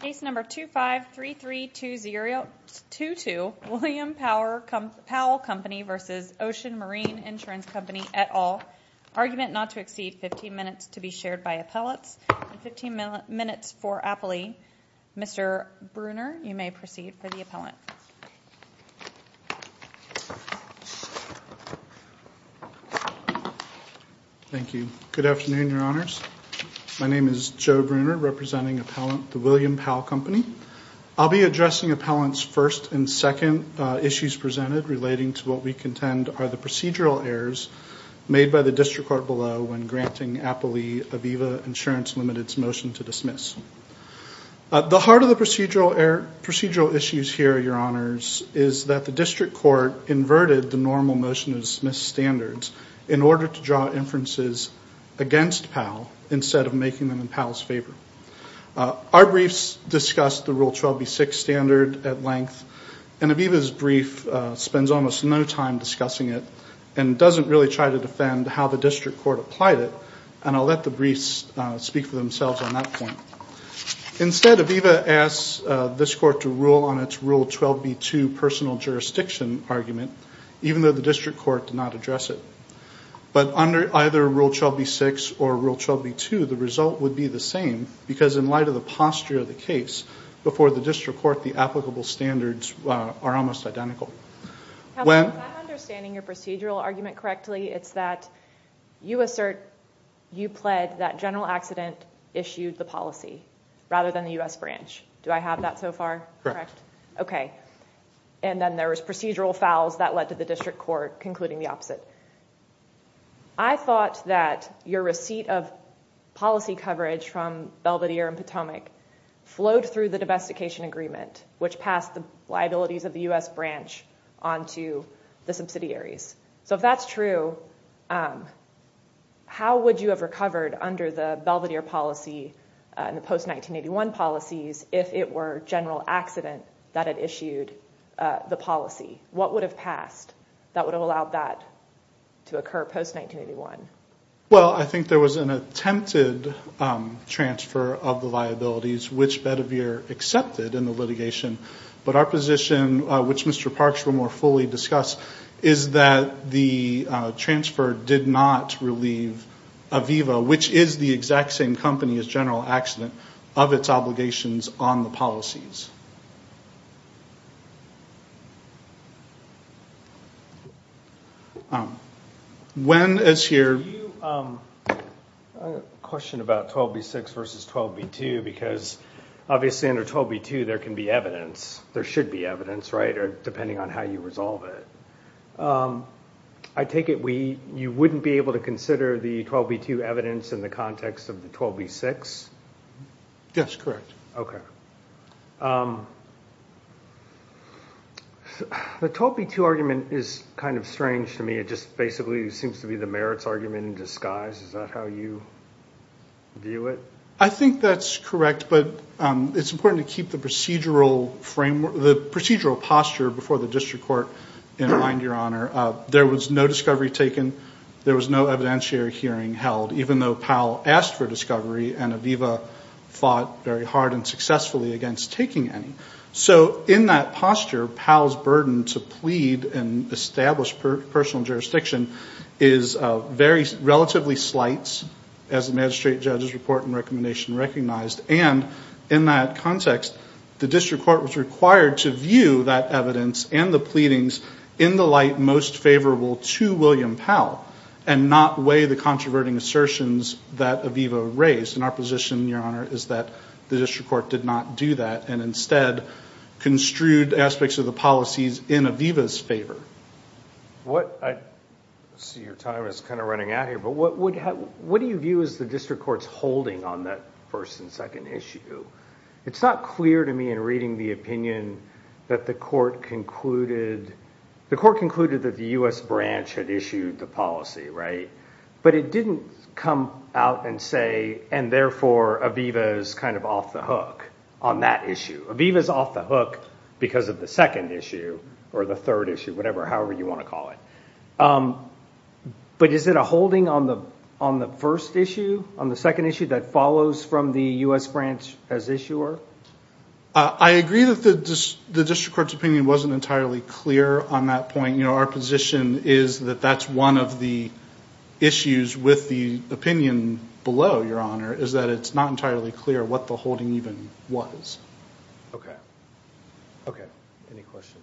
Case number 2533222 William Powell Company v. Ocean Marine Insurance Company, et al. Argument not to exceed 15 minutes to be shared by appellants. 15 minutes for appellee. Mr. Bruner, you may proceed for the appellant. Thank you. Good afternoon, Your Honors. My name is Joe Bruner, representing appellant the William Powell Company. I'll be addressing appellants' first and second issues presented relating to what we contend are the procedural errors made by the district court below when granting appellee Aviva Insurance Limited's motion to dismiss. The heart of the procedural issues here, Your Honors, is that the district court inverted the normal motion to dismiss standards in order to draw inferences against Powell instead of making them in Powell's favor. Our briefs discuss the Rule 12B6 standard at length, and Aviva's brief spends almost no time discussing it and doesn't really try to defend how the district court applied it, and I'll let the briefs speak for themselves on that point. Instead, Aviva asks this court to rule on its Rule 12B2 personal jurisdiction argument, even though the district court did not address it. But under either Rule 12B6 or Rule 12B2, the result would be the same, because in light of the posture of the case, before the district court, the applicable standards are almost identical. If I'm understanding your procedural argument correctly, it's that you assert you pled that General Accident issued the policy rather than the U.S. branch. Do I have that so far? Okay. And then there was procedural fouls that led to the district court concluding the opposite. I thought that your receipt of policy coverage from Belvedere and Potomac flowed through the domestication agreement, which passed the liabilities of the U.S. branch onto the subsidiaries. So if that's true, how would you have recovered under the Belvedere policy and the post-1981 policies if it were General Accident that had issued the policy? What would have passed that would have allowed that to occur post-1981? Well, I think there was an attempted transfer of the liabilities, which Belvedere accepted in the litigation. But our position, which Mr. Parks will more fully discuss, is that the transfer did not relieve Aviva, which is the exact same company as General Accident, of its obligations on the policies. I have a question about 12B6 versus 12B2, because obviously under 12B2 there can be evidence. There should be evidence, right, depending on how you resolve it. I take it you wouldn't be able to consider the 12B2 evidence in the context of the 12B6? Yes, correct. Okay. The 12B2 argument is kind of strange to me. It just basically seems to be the merits argument in disguise. Is that how you view it? I think that's correct, but it's important to keep the procedural posture before the district court in mind, Your Honor. There was no discovery taken. There was no evidentiary hearing held, even though Powell asked for discovery and Aviva fought very hard and successfully against taking any. So in that posture, Powell's burden to plead and establish personal jurisdiction is relatively slight, as the magistrate judge's report and recommendation recognized. And in that context, the district court was required to view that evidence and the pleadings in the light most favorable to William Powell and not weigh the controverting assertions that Aviva raised. And our position, Your Honor, is that the district court did not do that and instead construed aspects of the policies in Aviva's favor. I see your time is kind of running out here, but what do you view as the district court's holding on that first and second issue? It's not clear to me in reading the opinion that the court concluded that the U.S. branch had issued the policy, right? But it didn't come out and say, and therefore Aviva is kind of off the hook on that issue. Aviva is off the hook because of the second issue or the third issue, whatever, however you want to call it. But is it a holding on the first issue, on the second issue that follows from the U.S. branch as issuer? I agree that the district court's opinion wasn't entirely clear on that point. Our position is that that's one of the issues with the opinion below, Your Honor, is that it's not entirely clear what the holding even was. Okay. Okay. Any questions?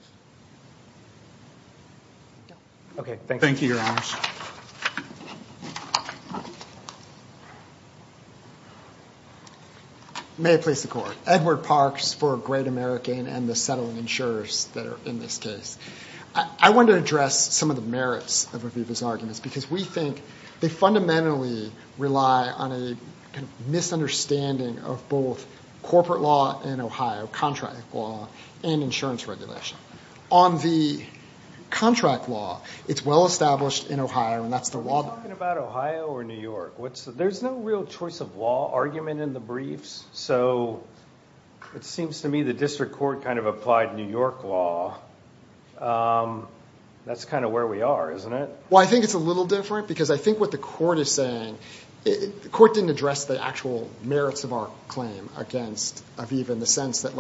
No. Okay, thank you. Thank you, Your Honors. May it please the Court. Edward Parks for Great American and the settling insurers that are in this case. I want to address some of the merits of Aviva's arguments because we think they fundamentally rely on a misunderstanding of both corporate law in Ohio, contract law, and insurance regulation. On the contract law, it's well established in Ohio, and that's the law. We're talking about Ohio or New York. There's no real choice of law argument in the briefs. It seems to me the district court kind of applied New York law. That's kind of where we are, isn't it? Well, I think it's a little different because I think what the court is saying, the court didn't address the actual merits of our claim against Aviva in the sense that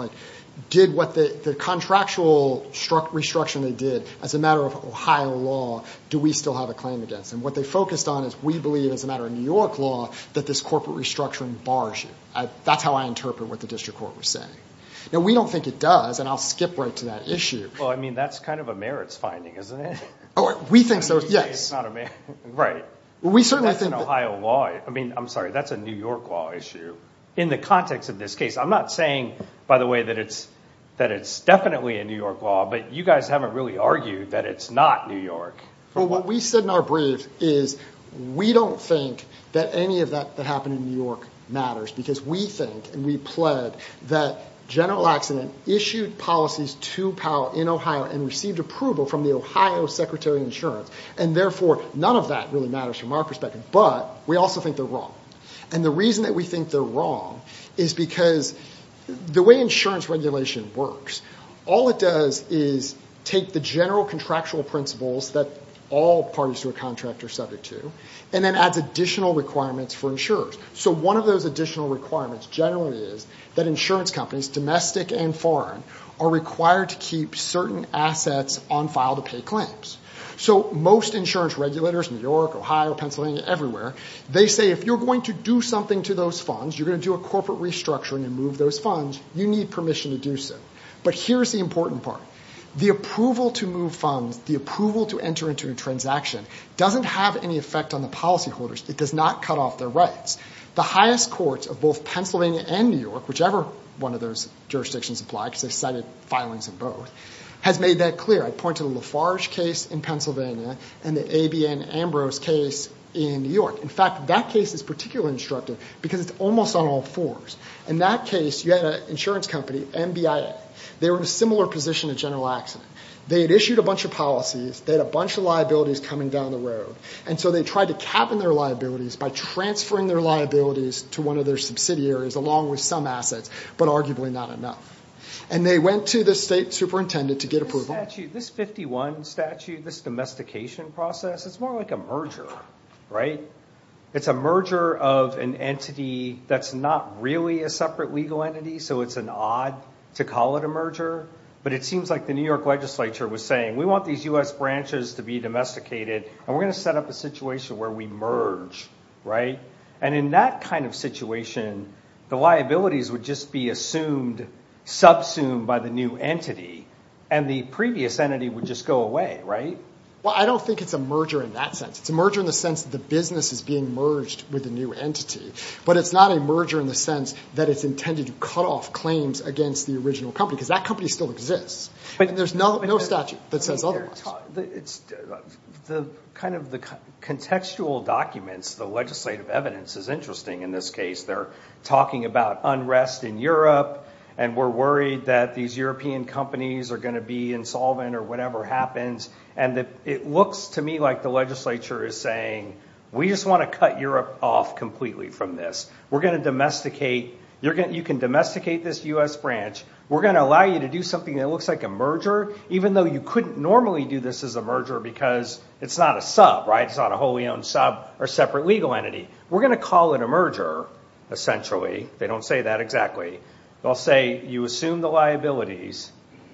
did what the contractual restructuring they did. As a matter of Ohio law, do we still have a claim against them? What they focused on is we believe as a matter of New York law that this corporate restructuring bars you. That's how I interpret what the district court was saying. Now, we don't think it does, and I'll skip right to that issue. Well, I mean, that's kind of a merits finding, isn't it? We think so, yes. Right. That's an Ohio law. I mean, I'm sorry, that's a New York law issue. In the context of this case, I'm not saying, by the way, that it's definitely a New York law, but you guys haven't really argued that it's not New York. Well, what we said in our brief is we don't think that any of that that happened in New York matters because we think and we pled that General Laxman issued policies to Powell in Ohio and received approval from the Ohio Secretary of Insurance, and therefore, none of that really matters from our perspective. But we also think they're wrong. And the reason that we think they're wrong is because the way insurance regulation works, all it does is take the general contractual principles that all parties to a contract are subject to and then adds additional requirements for insurers. So one of those additional requirements generally is that insurance companies, domestic and foreign, are required to keep certain assets on file to pay claims. So most insurance regulators, New York, Ohio, Pennsylvania, everywhere, they say if you're going to do something to those funds, you're going to do a corporate restructuring and move those funds, you need permission to do so. But here's the important part. The approval to move funds, the approval to enter into a transaction doesn't have any effect on the policyholders. It does not cut off their rights. The highest courts of both Pennsylvania and New York, whichever one of those jurisdictions apply because they cited filings in both, has made that clear. I point to the Lafarge case in Pennsylvania and the ABN Ambrose case in New York. In fact, that case is particularly instructive because it's almost on all fours. In that case, you had an insurance company, MBIA. They were in a similar position to General Laxman. They had issued a bunch of policies. They had a bunch of liabilities coming down the road. And so they tried to cabin their liabilities by transferring their liabilities to one of their subsidiaries along with some assets, but arguably not enough. And they went to the state superintendent to get approval. This 51 statute, this domestication process, it's more like a merger, right? It's a merger of an entity that's not really a separate legal entity, so it's an odd to call it a merger. But it seems like the New York legislature was saying, we want these U.S. branches to be domesticated, and we're going to set up a situation where we merge, right? And in that kind of situation, the liabilities would just be assumed, subsumed by the new entity, and the previous entity would just go away, right? Well, I don't think it's a merger in that sense. It's a merger in the sense that the business is being merged with a new entity. But it's not a merger in the sense that it's intended to cut off claims against the original company, because that company still exists. And there's no statute that says otherwise. The kind of the contextual documents, the legislative evidence is interesting in this case. They're talking about unrest in Europe, and we're worried that these European companies are going to be insolvent or whatever happens. And it looks to me like the legislature is saying, we just want to cut Europe off completely from this. We're going to domesticate. You can domesticate this U.S. branch. We're going to allow you to do something that looks like a merger, even though you couldn't normally do this as a merger because it's not a sub, right? It's not a wholly owned sub or separate legal entity. We're going to call it a merger, essentially. They don't say that exactly. They'll say you assume the liabilities.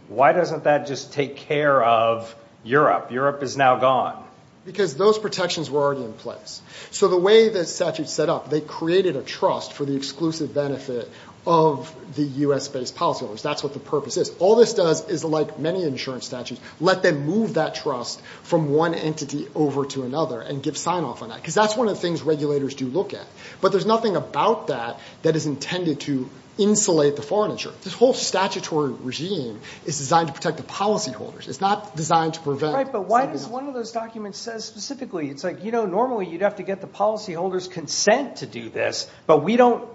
Why doesn't that just take care of Europe? Europe is now gone. Because those protections were already in place. So the way the statute's set up, they created a trust for the exclusive benefit of the U.S.-based policyholders. That's what the purpose is. All this does is, like many insurance statutes, let them move that trust from one entity over to another and give sign-off on that, because that's one of the things regulators do look at. But there's nothing about that that is intended to insulate the foreign insurer. This whole statutory regime is designed to protect the policyholders. It's not designed to prevent. Right, but why does one of those documents say specifically, it's like, you know, normally you'd have to get the policyholders' consent to do this, but we don't...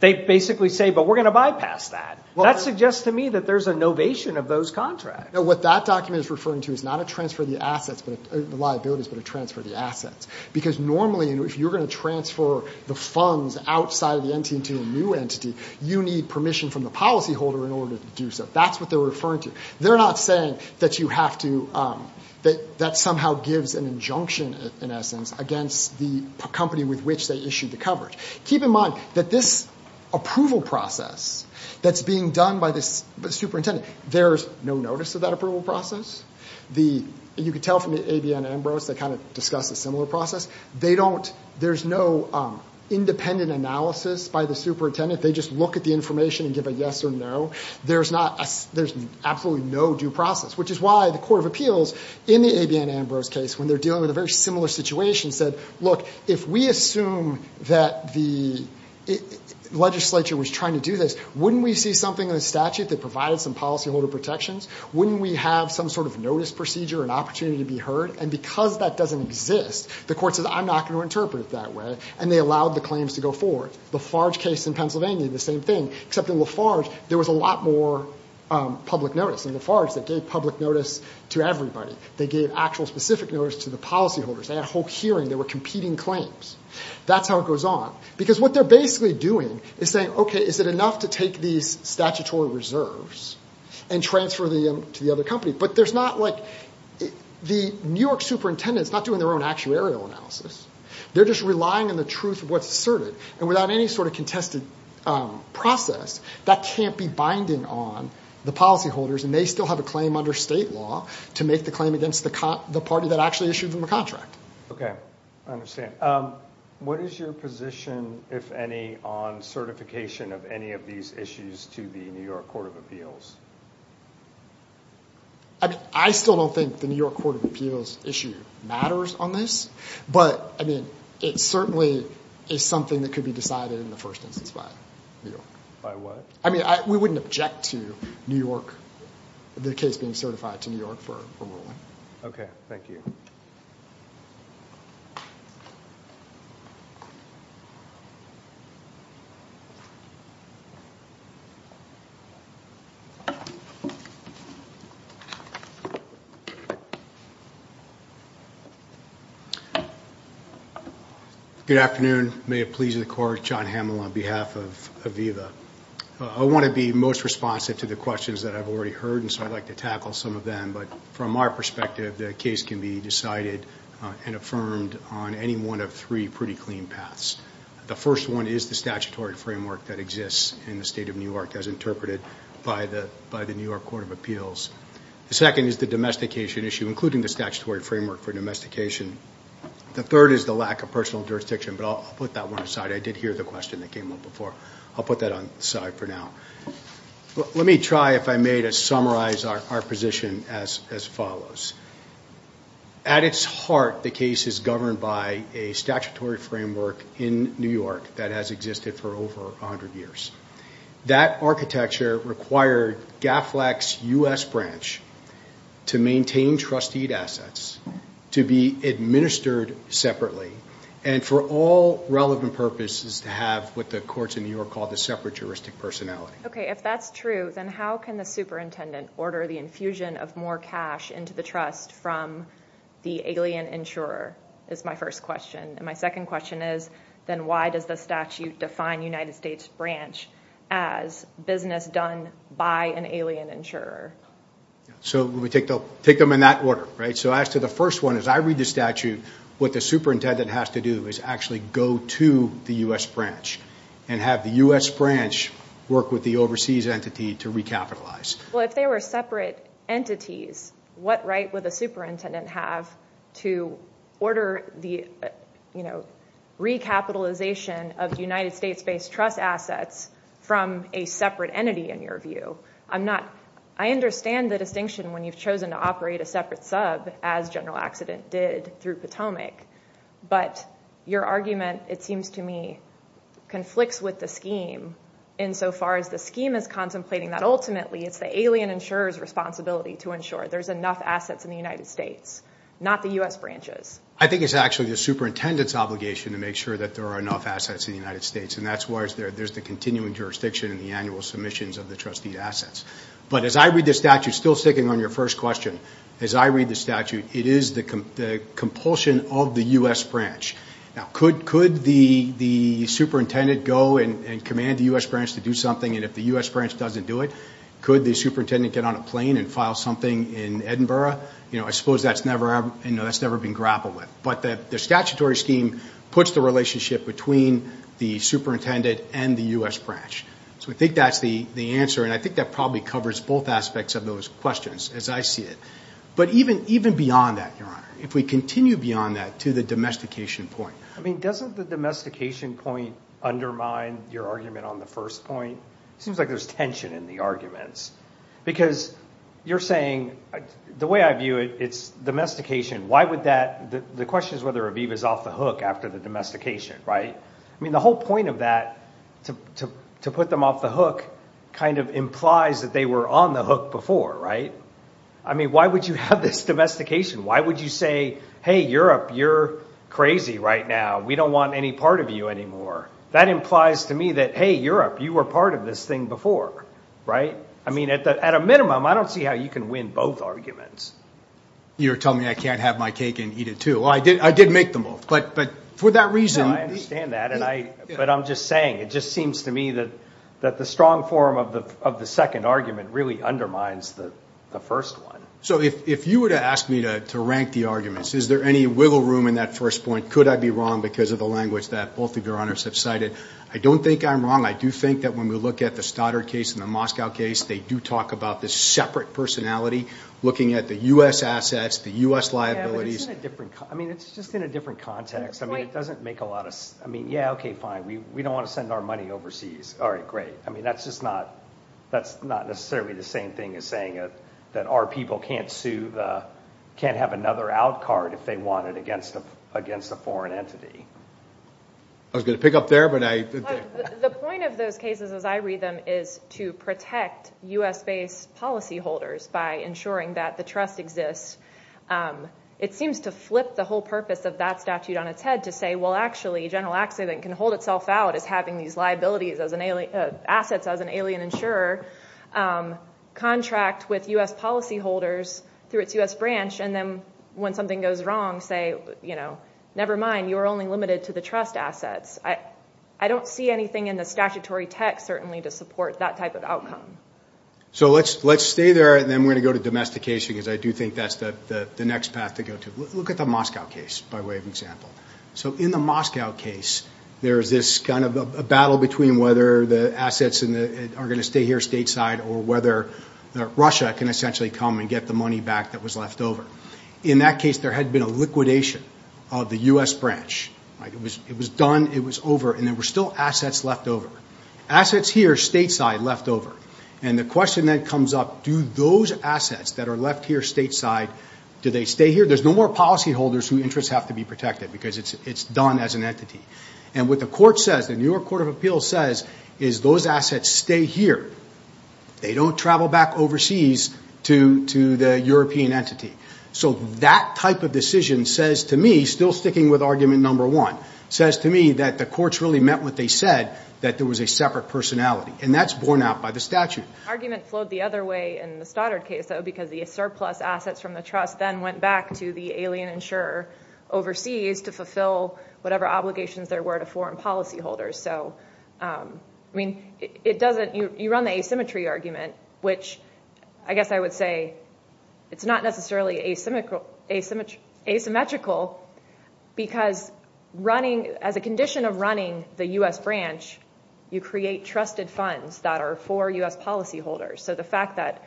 They basically say, but we're going to bypass that. That suggests to me that there's a novation of those contracts. What that document is referring to is not a transfer of the assets, the liabilities, but a transfer of the assets. Because normally, if you're going to transfer the funds outside of the entity to a new entity, you need permission from the policyholder in order to do so. That's what they're referring to. They're not saying that you have to... that that somehow gives an injunction, in essence, against the company with which they issued the coverage. Keep in mind that this approval process that's being done by the superintendent, there's no notice of that approval process. You can tell from the ABN Ambrose, they kind of discuss a similar process. They don't... there's no independent analysis by the superintendent. They just look at the information and give a yes or no. There's absolutely no due process, which is why the Court of Appeals, in the ABN Ambrose case, when they're dealing with a very similar situation, said, look, if we assume that the legislature was trying to do this, wouldn't we see something in the statute that provided some policyholder protections? Wouldn't we have some sort of notice procedure, an opportunity to be heard? And because that doesn't exist, the Court says, I'm not going to interpret it that way, and they allowed the claims to go forward. The Farge case in Pennsylvania, the same thing, except in LaFarge, there was a lot more public notice. In LaFarge, they gave public notice to everybody. They gave actual specific notice to the policyholders. They had a whole hearing. They were competing claims. That's how it goes on. Because what they're basically doing is saying, okay, is it enough to take these statutory reserves and transfer them to the other company? But the New York superintendent's not doing their own actuarial analysis. They're just relying on the truth of what's asserted. And without any sort of contested process, that can't be binding on the policyholders, and they still have a claim under state law to make the claim against the party that actually issued them a contract. Okay, I understand. Okay, what is your position, if any, on certification of any of these issues to the New York Court of Appeals? I still don't think the New York Court of Appeals issue matters on this, but, I mean, it certainly is something that could be decided in the first instance by New York. By what? I mean, we wouldn't object to New York, the case being certified to New York for ruling. Okay, thank you. Good afternoon. May it please the Court, John Hamill on behalf of Aviva. I want to be most responsive to the questions that I've already heard, and so I'd like to tackle some of them. But from our perspective, the case can be decided and affirmed on any one of three pretty clean paths. The first one is the statutory framework that exists in the state of New York as interpreted by the New York Court of Appeals. The second is the domestication issue, including the statutory framework for domestication. The third is the lack of personal jurisdiction, but I'll put that one aside. I did hear the question that came up before. I'll put that on the side for now. Let me try, if I may, to summarize our position as follows. At its heart, the case is governed by a statutory framework in New York that has existed for over 100 years. That architecture required GAFLAC's U.S. branch to maintain trustee assets, to be administered separately, and for all relevant purposes to have what the courts in New York call the separaturistic personality. If that's true, then how can the superintendent order the infusion of more cash into the trust from the alien insurer is my first question. My second question is, then why does the statute define the United States branch as business done by an alien insurer? We take them in that order. As to the first one, as I read the statute, what the superintendent has to do is actually go to the U.S. branch and have the U.S. branch work with the overseas entity to recapitalize. If they were separate entities, what right would the superintendent have to order the recapitalization of United States-based trust assets from a separate entity, in your view? I understand the distinction when you've chosen to operate a separate sub, as General Accident did through Potomac, but your argument, it seems to me, conflicts with the scheme insofar as the scheme is contemplating that ultimately it's the alien insurer's responsibility to ensure there's enough assets in the United States, not the U.S. branches. I think it's actually the superintendent's obligation to make sure that there are enough assets in the United States, and that's why there's the continuing jurisdiction in the annual submissions of the trustee assets. As I read the statute, still sticking on your first question, as I read the statute, it is the compulsion of the U.S. branch. Now, could the superintendent go and command the U.S. branch to do something, and if the U.S. branch doesn't do it, could the superintendent get on a plane and file something in Edinburgh? I suppose that's never been grappled with. But the statutory scheme puts the relationship between the superintendent and the U.S. branch. So I think that's the answer, and I think that probably covers both aspects of those questions, as I see it. But even beyond that, Your Honor, if we continue beyond that to the domestication point. I mean, doesn't the domestication point undermine your argument on the first point? It seems like there's tension in the arguments, because you're saying, the way I view it, it's domestication. The question is whether Aviv is off the hook after the domestication, right? I mean, the whole point of that, to put them off the hook, kind of implies that they were on the hook before, right? I mean, why would you have this domestication? Why would you say, hey, Europe, you're crazy right now. We don't want any part of you anymore. That implies to me that, hey, Europe, you were part of this thing before, right? I mean, at a minimum, I don't see how you can win both arguments. You're telling me I can't have my cake and eat it too. Well, I did make the move, but for that reason. No, I understand that, but I'm just saying, it just seems to me that the strong form of the second argument really undermines the first one. So if you were to ask me to rank the arguments, is there any wiggle room in that first point? Could I be wrong because of the language that both of Your Honors have cited? I don't think I'm wrong. I do think that when we look at the Stoddard case and the Moscow case, they do talk about this separate personality, looking at the U.S. assets, the U.S. liabilities. Yeah, but it's in a different – I mean, it's just in a different context. I mean, it doesn't make a lot of – I mean, yeah, okay, fine. We don't want to send our money overseas. All right, great. I mean, that's just not – that's not necessarily the same thing as saying that our people can't sue the – can't have another out card if they want it against a foreign entity. I was going to pick up there, but I – You know, the point of those cases as I read them is to protect U.S.-based policyholders by ensuring that the trust exists. It seems to flip the whole purpose of that statute on its head to say, well, actually, a general accident can hold itself out as having these liabilities as an – assets as an alien insurer contract with U.S. policyholders through its U.S. branch and then when something goes wrong say, you know, never mind, you are only limited to the trust assets. I don't see anything in the statutory text certainly to support that type of outcome. So let's stay there, and then we're going to go to domestication because I do think that's the next path to go to. Look at the Moscow case by way of example. So in the Moscow case, there is this kind of a battle between whether the assets are going to stay here stateside or whether Russia can essentially come and get the money back that was left over. In that case, there had been a liquidation of the U.S. branch. It was done, it was over, and there were still assets left over. Assets here, stateside, left over. And the question that comes up, do those assets that are left here stateside, do they stay here? There's no more policyholders whose interests have to be protected because it's done as an entity. And what the court says, the New York Court of Appeals says, is those assets stay here. They don't travel back overseas to the European entity. So that type of decision says to me, still sticking with argument number one, says to me that the courts really meant what they said, that there was a separate personality. And that's borne out by the statute. The argument flowed the other way in the Stoddard case, though, because the surplus assets from the trust then went back to the alien insurer overseas to fulfill whatever obligations there were to foreign policyholders. You run the asymmetry argument, which I guess I would say it's not necessarily asymmetrical because as a condition of running the U.S. branch, you create trusted funds that are for U.S. policyholders. So the fact that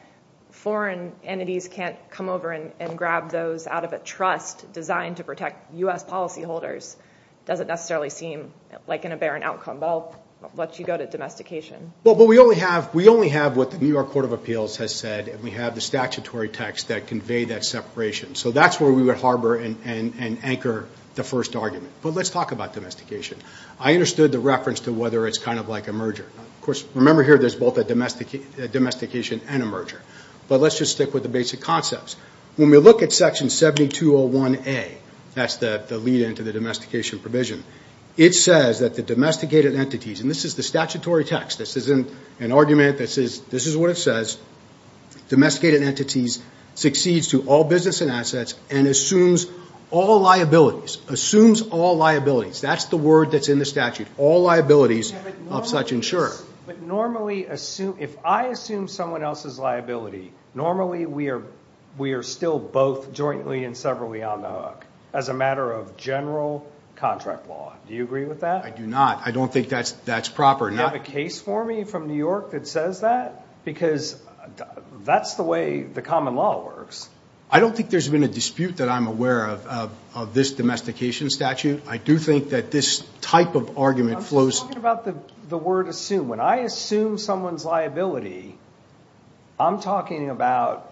foreign entities can't come over and grab those out of a trust designed to protect U.S. policyholders doesn't necessarily seem like an aberrant outcome. But I'll let you go to domestication. Well, but we only have what the New York Court of Appeals has said, and we have the statutory text that conveyed that separation. So that's where we would harbor and anchor the first argument. But let's talk about domestication. I understood the reference to whether it's kind of like a merger. Of course, remember here there's both a domestication and a merger. But let's just stick with the basic concepts. When we look at Section 7201A, that's the lead-in to the domestication provision, it says that the domesticated entities, and this is the statutory text. This isn't an argument. This is what it says. Domesticated entities succeeds to all business and assets and assumes all liabilities. Assumes all liabilities. That's the word that's in the statute. All liabilities of such insurer. But normally if I assume someone else's liability, normally we are still both jointly and severally on the hook as a matter of general contract law. Do you agree with that? I do not. I don't think that's proper. Do you have a case for me from New York that says that? Because that's the way the common law works. I don't think there's been a dispute that I'm aware of of this domestication statute. I do think that this type of argument flows. I'm talking about the word assume. When I assume someone's liability, I'm talking about,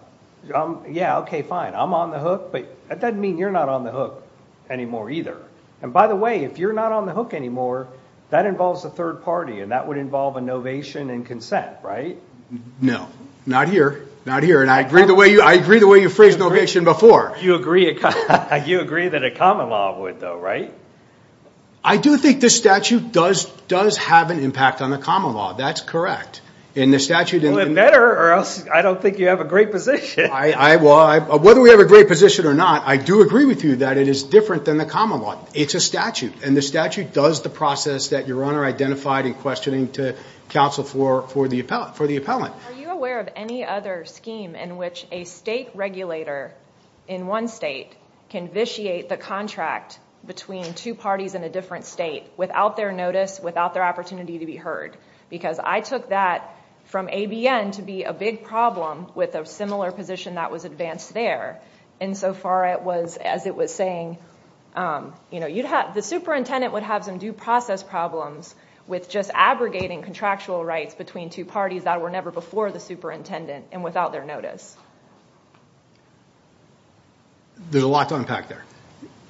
yeah, okay, fine, I'm on the hook, but that doesn't mean you're not on the hook anymore either. And, by the way, if you're not on the hook anymore, that involves a third party, and that would involve a novation and consent, right? No. Not here. Not here. And I agree the way you phrased novation before. You agree that a common law would, though, right? I do think this statute does have an impact on the common law. That's correct. Well, it better, or else I don't think you have a great position. Whether we have a great position or not, I do agree with you that it is different than the common law. It's a statute, and the statute does the process that your Honor identified in questioning to counsel for the appellant. Are you aware of any other scheme in which a state regulator in one state can vitiate the contract between two parties in a different state without their notice, without their opportunity to be heard? Because I took that from ABN to be a big problem with a similar position that was advanced there, insofar as it was saying, you know, the superintendent would have some due process problems with just aggregating contractual rights between two parties that were never before the superintendent and without their notice. There's a lot to unpack there.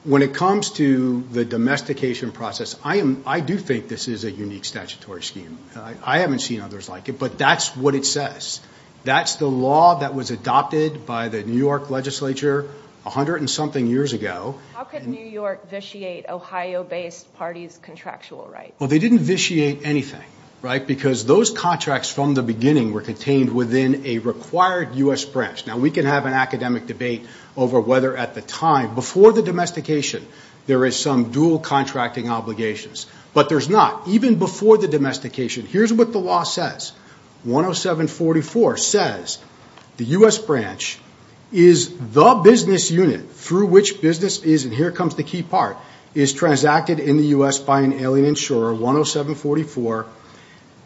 When it comes to the domestication process, I do think this is a unique statutory scheme. I haven't seen others like it, but that's what it says. That's the law that was adopted by the New York legislature a hundred and something years ago. How could New York vitiate Ohio-based parties' contractual rights? Well, they didn't vitiate anything, right, because those contracts from the beginning were contained within a required U.S. branch. Now, we can have an academic debate over whether at the time, before the domestication, there is some dual contracting obligations. But there's not. Even before the domestication, here's what the law says. 10744 says the U.S. branch is the business unit through which business is, and here comes the key part, is transacted in the U.S. by an alien insurer, 10744.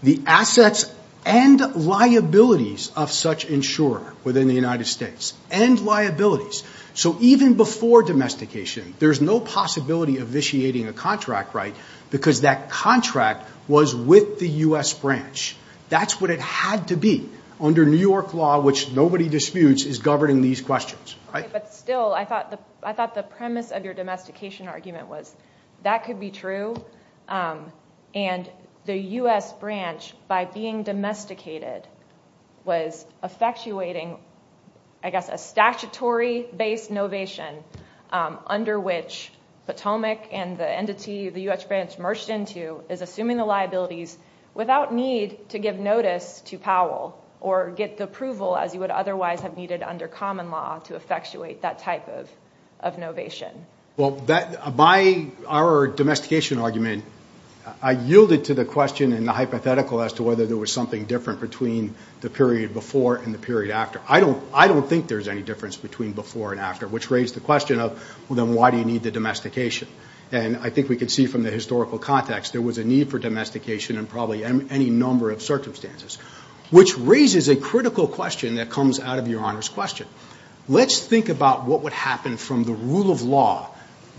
The assets and liabilities of such insurer within the United States, and liabilities. So even before domestication, there's no possibility of vitiating a contract right because that contract was with the U.S. branch. That's what it had to be under New York law, which nobody disputes is governing these questions. But still, I thought the premise of your domestication argument was that could be true, and the U.S. branch, by being domesticated, was effectuating, I guess, a statutory-based novation under which Potomac and the entity the U.S. branch merged into is assuming the liabilities without need to give notice to Powell or get the approval as you would otherwise have needed under common law to effectuate that type of novation. Well, by our domestication argument, I yielded to the question and the hypothetical as to whether there was something different between the period before and the period after. I don't think there's any difference between before and after, which raised the question of, well, then why do you need the domestication? And I think we can see from the historical context there was a need for domestication in probably any number of circumstances, which raises a critical question that comes out of Your Honor's question. Let's think about what would happen from the rule of law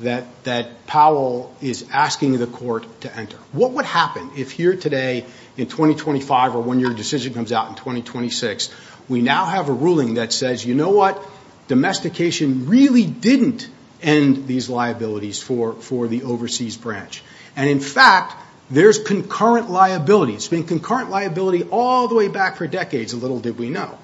that Powell is asking the court to enter. What would happen if here today in 2025 or when your decision comes out in 2026, we now have a ruling that says, you know what? Domestication really didn't end these liabilities for the overseas branch. And, in fact, there's concurrent liability. It's been concurrent liability all the way back for decades, little did we know.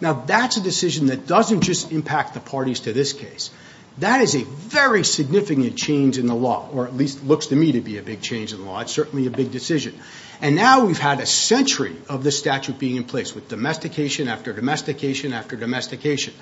Now, that's a decision that doesn't just impact the parties to this case. That is a very significant change in the law, or at least looks to me to be a big change in the law. It's certainly a big decision. And now we've had a century of this statute being in place with domestication after domestication after domestication.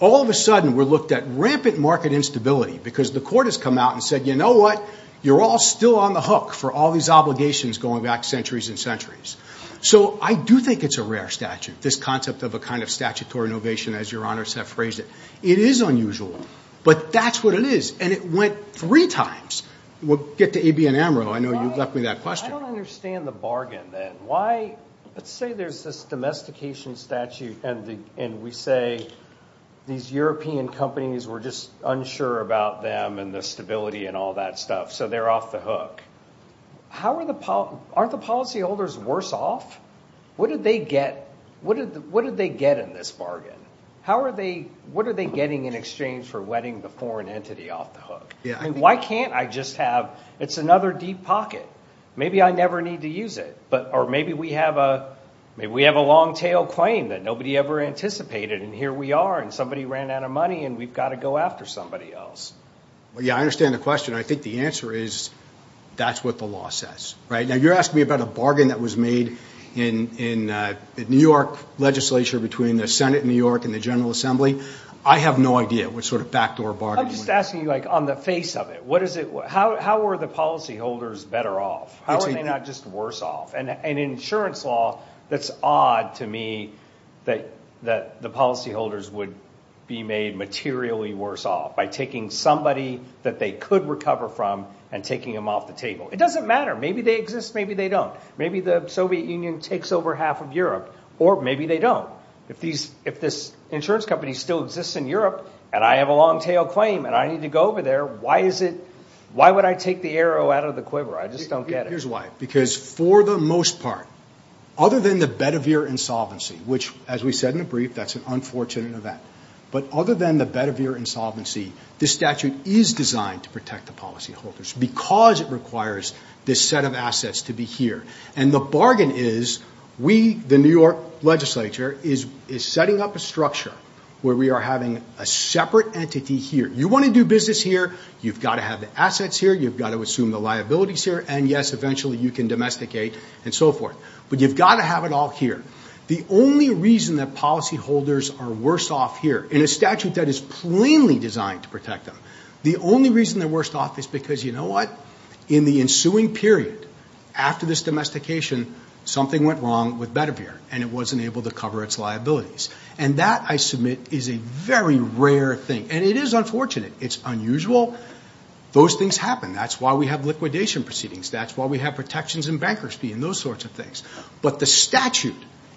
All of a sudden, we're looked at rampant market instability because the court has come out and said, you know what, you're all still on the hook for all these obligations going back centuries and centuries. So I do think it's a rare statute, this concept of a kind of statutory innovation, as Your Honor has phrased it. It is unusual, but that's what it is. And it went three times. We'll get to A, B, and M real. I know you left me that question. I don't understand the bargain then. Let's say there's this domestication statute, and we say these European companies, we're just unsure about them and the stability and all that stuff, so they're off the hook. Aren't the policyholders worse off? What did they get in this bargain? What are they getting in exchange for wetting the foreign entity off the hook? Why can't I just have, it's another deep pocket. Maybe I never need to use it. Or maybe we have a long-tail claim that nobody ever anticipated, and here we are, and somebody ran out of money, and we've got to go after somebody else. Yeah, I understand the question. I think the answer is that's what the law says. Now, you're asking me about a bargain that was made in New York legislature between the Senate in New York and the General Assembly. I have no idea what sort of backdoor bargain. I'm just asking you on the face of it. How were the policyholders better off? How are they not just worse off? In insurance law, that's odd to me that the policyholders would be made materially worse off by taking somebody that they could recover from and taking them off the table. It doesn't matter. Maybe they exist. Maybe they don't. Maybe the Soviet Union takes over half of Europe, or maybe they don't. If this insurance company still exists in Europe, and I have a long-tail claim, and I need to go over there, why would I take the arrow out of the quiver? I just don't get it. Because for the most part, other than the Bedivere insolvency, which, as we said in the brief, that's an unfortunate event. But other than the Bedivere insolvency, this statute is designed to protect the policyholders because it requires this set of assets to be here. And the bargain is we, the New York legislature, is setting up a structure where we are having a separate entity here. You want to do business here. You've got to have the assets here. You've got to assume the liabilities here. And, yes, eventually you can domesticate and so forth. But you've got to have it all here. The only reason that policyholders are worse off here, in a statute that is plainly designed to protect them, the only reason they're worse off is because, you know what? In the ensuing period, after this domestication, something went wrong with Bedivere, and it wasn't able to cover its liabilities. And that, I submit, is a very rare thing. And it is unfortunate. It's unusual. Those things happen. That's why we have liquidation proceedings. That's why we have protections in bankruptcy and those sorts of things. But the statute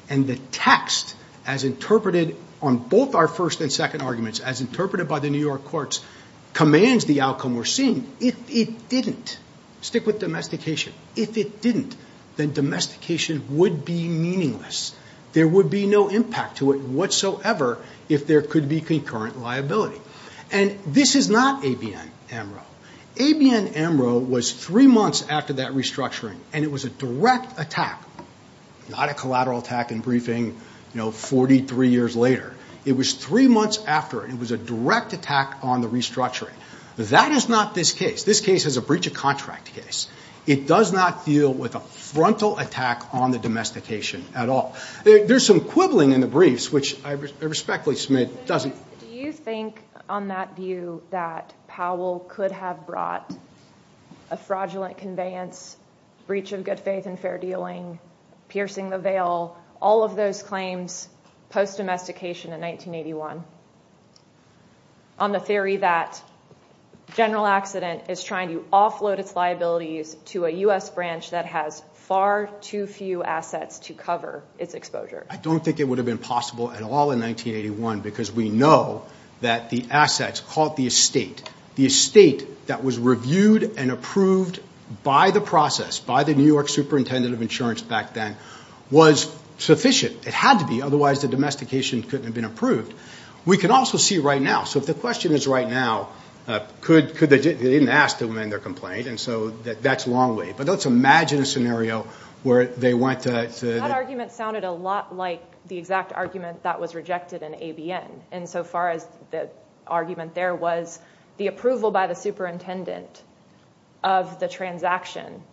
and the text, as interpreted on both our first and second arguments, as interpreted by the New York courts, commands the outcome we're seeing. If it didn't, stick with domestication. If it didn't, then domestication would be meaningless. There would be no impact to it whatsoever if there could be concurrent liability. And this is not ABN-MRO. ABN-MRO was three months after that restructuring, and it was a direct attack, not a collateral attack in briefing, you know, 43 years later. It was three months after it. It was a direct attack on the restructuring. That is not this case. This case is a breach of contract case. It does not deal with a frontal attack on the domestication at all. There's some quibbling in the briefs, which I respectfully submit doesn't. Do you think, on that view, that Powell could have brought a fraudulent conveyance, breach of good faith and fair dealing, piercing the veil, all of those claims post-domestication in 1981, on the theory that General Accident is trying to offload its liabilities to a U.S. branch that has far too few assets to cover its exposure? I don't think it would have been possible at all in 1981, because we know that the assets caught the estate. The estate that was reviewed and approved by the process, by the New York superintendent of insurance back then, was sufficient. It had to be. Otherwise, the domestication couldn't have been approved. We can also see right now. So if the question is right now, they didn't ask to amend their complaint, and so that's a long way. But let's imagine a scenario where they went to – That argument sounded a lot like the exact argument that was rejected in ABN, insofar as the argument there was the approval by the superintendent of the transaction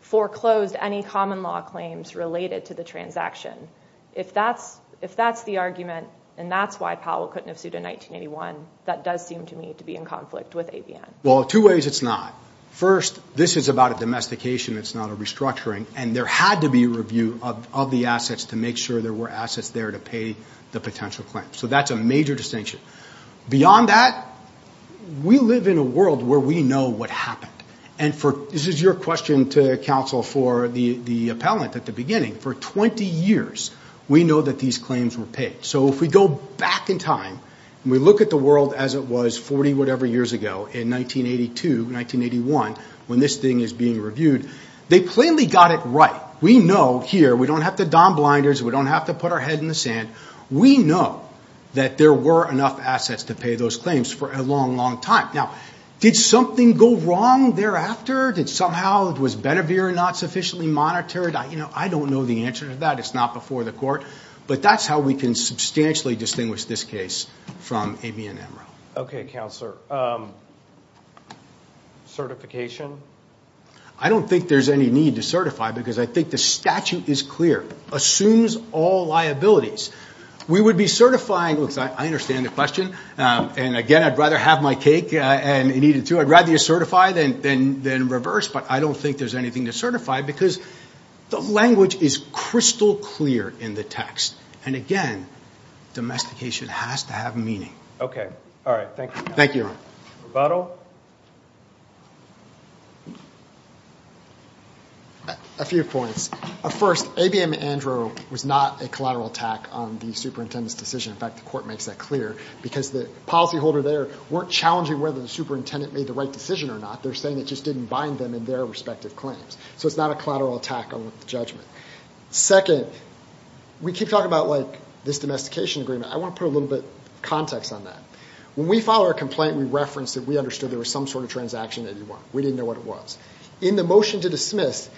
foreclosed any common law claims related to the transaction. If that's the argument, and that's why Powell couldn't have sued in 1981, that does seem to me to be in conflict with ABN. Well, two ways it's not. First, this is about a domestication. It's not a restructuring. And there had to be a review of the assets to make sure there were assets there to pay the potential claim. So that's a major distinction. Beyond that, we live in a world where we know what happened. And this is your question to counsel for the appellant at the beginning. For 20 years, we know that these claims were paid. So if we go back in time and we look at the world as it was 40-whatever years ago in 1982, 1981, when this thing is being reviewed, they plainly got it right. We know here we don't have to don blinders. We don't have to put our head in the sand. We know that there were enough assets to pay those claims for a long, long time. Now, did something go wrong thereafter? Did somehow it was Benevere not sufficiently monitored? I don't know the answer to that. It's not before the court. But that's how we can substantially distinguish this case from AB&M. Okay, Counselor. I don't think there's any need to certify because I think the statute is clear. Assumes all liabilities. We would be certifying. I understand the question. And, again, I'd rather have my cake and eat it too. I'd rather you certify than reverse. But I don't think there's anything to certify because the language is crystal clear in the text. And, again, domestication has to have meaning. All right. Thank you. A few points. First, AB&M-ANDRO was not a collateral attack on the superintendent's decision. In fact, the court makes that clear because the policyholder there weren't challenging whether the superintendent made the right decision or not. They're saying it just didn't bind them in their respective claims. So it's not a collateral attack on the judgment. Second, we keep talking about, like, this domestication agreement. I want to put a little bit of context on that. When we filed our complaint, we referenced that we understood there was some sort of transaction that he won. We didn't know what it was. In the motion to dismiss,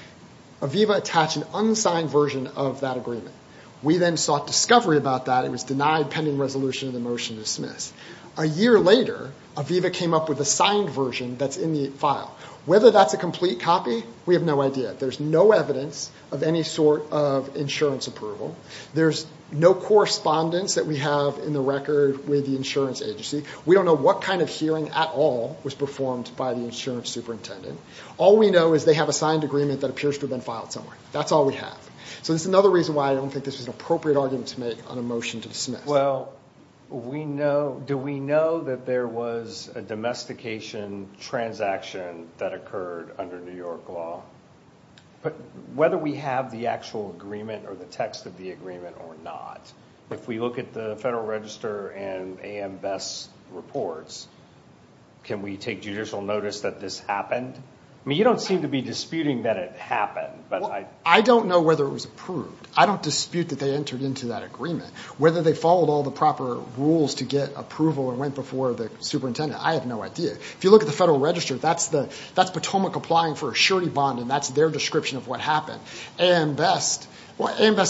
Aviva attached an unsigned version of that agreement. We then sought discovery about that. It was denied pending resolution in the motion to dismiss. A year later, Aviva came up with a signed version that's in the file. Whether that's a complete copy, we have no idea. There's no evidence of any sort of insurance approval. There's no correspondence that we have in the record with the insurance agency. We don't know what kind of hearing at all was performed by the insurance superintendent. All we know is they have a signed agreement that appears to have been filed somewhere. That's all we have. So that's another reason why I don't think this was an appropriate argument to make on a motion to dismiss. Well, do we know that there was a domestication transaction that occurred under New York law? Whether we have the actual agreement or the text of the agreement or not, if we look at the Federal Register and AMBES reports, can we take judicial notice that this happened? You don't seem to be disputing that it happened. I don't know whether it was approved. I don't dispute that they entered into that agreement. Whether they followed all the proper rules to get approval and went before the superintendent, I have no idea. If you look at the Federal Register, that's Potomac applying for a surety bond, and that's their description of what happened. AMBES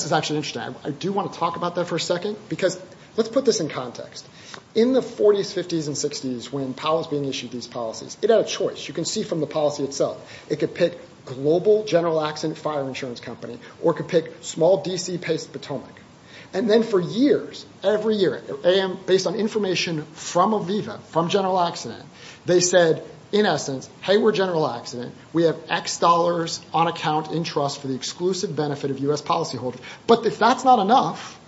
is actually interesting. I do want to talk about that for a second because let's put this in context. In the 40s, 50s, and 60s when Powell was being issued these policies, it had a choice. You can see from the policy itself. It could pick global general accident fire insurance company or it could pick small D.C.-based Potomac. And then for years, every year, based on information from Aviva, from General Accident, they said, in essence, hey, we're General Accident. We have X dollars on account in trust for the exclusive benefit of U.S. policyholders. But if that's not enough,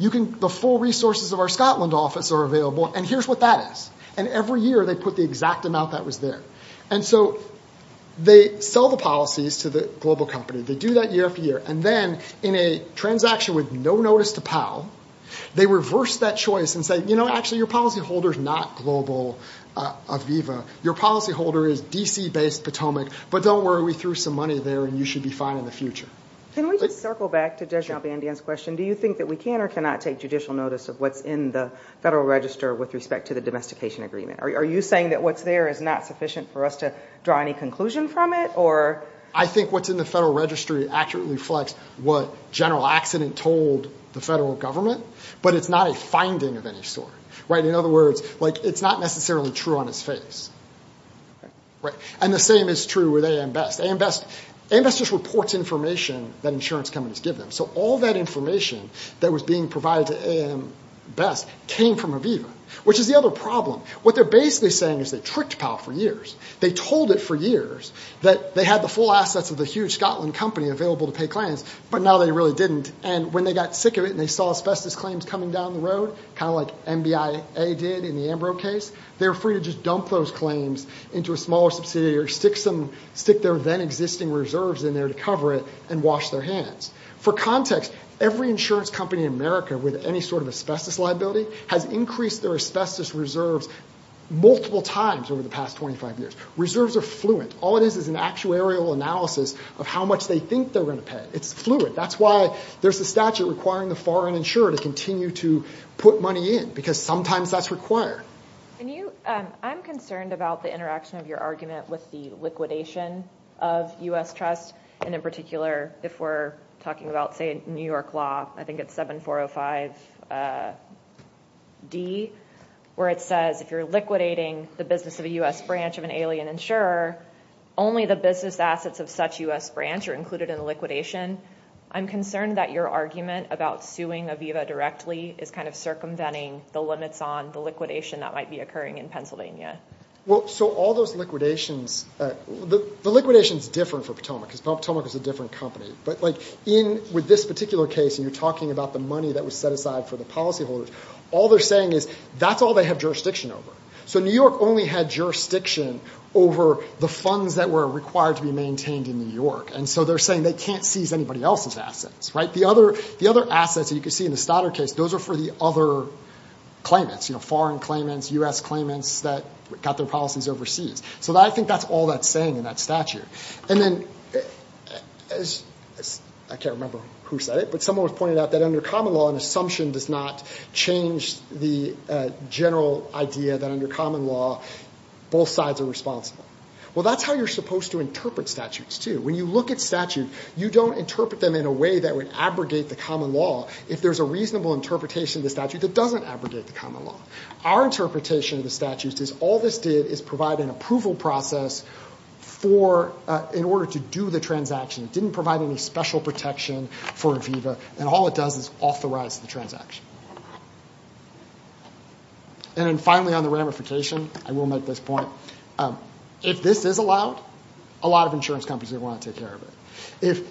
the full resources of our Scotland office are available, and here's what that is. And every year they put the exact amount that was there. And so they sell the policies to the global company. They do that year after year. And then in a transaction with no notice to Powell, they reverse that choice and say, you know, actually, your policyholder is not global Aviva. Your policyholder is D.C.-based Potomac, but don't worry. We threw some money there and you should be fine in the future. Can we just circle back to Deshaun Bandian's question? Do you think that we can or cannot take judicial notice of what's in the Federal Register with respect to the domestication agreement? Are you saying that what's there is not sufficient for us to draw any conclusion from it? I think what's in the Federal Registry accurately reflects what General Accident told the federal government, but it's not a finding of any sort. In other words, it's not necessarily true on its face. And the same is true with AMBEST. AMBEST just reports information that insurance companies give them. So all that information that was being provided to AMBEST came from Aviva, which is the other problem. What they're basically saying is they tricked Powell for years. They told it for years that they had the full assets of the huge Scotland company available to pay clients, but now they really didn't. And when they got sick of it and they saw asbestos claims coming down the road, kind of like NBIA did in the Ambro case, they were free to just dump those claims into a smaller subsidiary, stick their then-existing reserves in there to cover it, and wash their hands. For context, every insurance company in America with any sort of asbestos liability has increased their asbestos reserves multiple times over the past 25 years. Reserves are fluent. All it is is an actuarial analysis of how much they think they're going to pay. It's fluid. That's why there's a statute requiring the foreign insurer to continue to put money in, because sometimes that's required. I'm concerned about the interaction of your argument with the liquidation of U.S. trusts, and in particular, if we're talking about, say, New York law, I think it's 7405D, where it says if you're liquidating the business of a U.S. branch of an alien insurer, only the business assets of such U.S. branch are included in the liquidation. I'm concerned that your argument about suing Aviva directly is kind of circumventing the limits on the liquidation that might be occurring in Pennsylvania. Well, so all those liquidations, the liquidation is different for Potomac, because Potomac is a different company. But, like, with this particular case, and you're talking about the money that was set aside for the policyholders, all they're saying is that's all they have jurisdiction over. So New York only had jurisdiction over the funds that were required to be maintained in New York. And so they're saying they can't seize anybody else's assets, right? The other assets that you can see in the Stoddard case, those are for the other claimants, foreign claimants, U.S. claimants that got their policies overseas. So I think that's all that's saying in that statute. And then, I can't remember who said it, but someone pointed out that under common law, an assumption does not change the general idea that under common law, both sides are responsible. Well, that's how you're supposed to interpret statutes, too. When you look at statute, you don't interpret them in a way that would abrogate the common law if there's a reasonable interpretation of the statute that doesn't abrogate the common law. Our interpretation of the statute is all this did is provide an approval process in order to do the transaction. It didn't provide any special protection for Aviva, and all it does is authorize the transaction. And then, finally, on the ramification, I will make this point. If this is allowed, a lot of insurance companies are going to want to take care of it.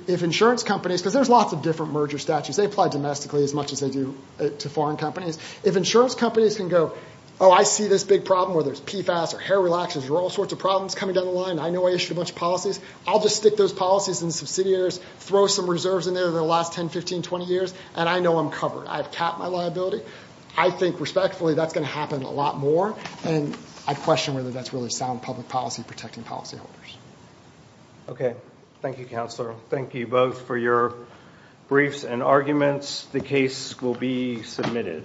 If insurance companies, because there's lots of different merger statutes. They apply domestically as much as they do to foreign companies. If insurance companies can go, oh, I see this big problem where there's PFAS or hair relaxers or all sorts of problems coming down the line. I know I issued a bunch of policies. I'll just stick those policies in the subsidiaries, throw some reserves in there for the last 10, 15, 20 years, and I know I'm covered. I've capped my liability. I think, respectfully, that's going to happen a lot more, and I question whether that's really sound public policy protecting policyholders. Okay. Thank you, Counselor. Thank you both for your briefs and arguments. The case will be submitted.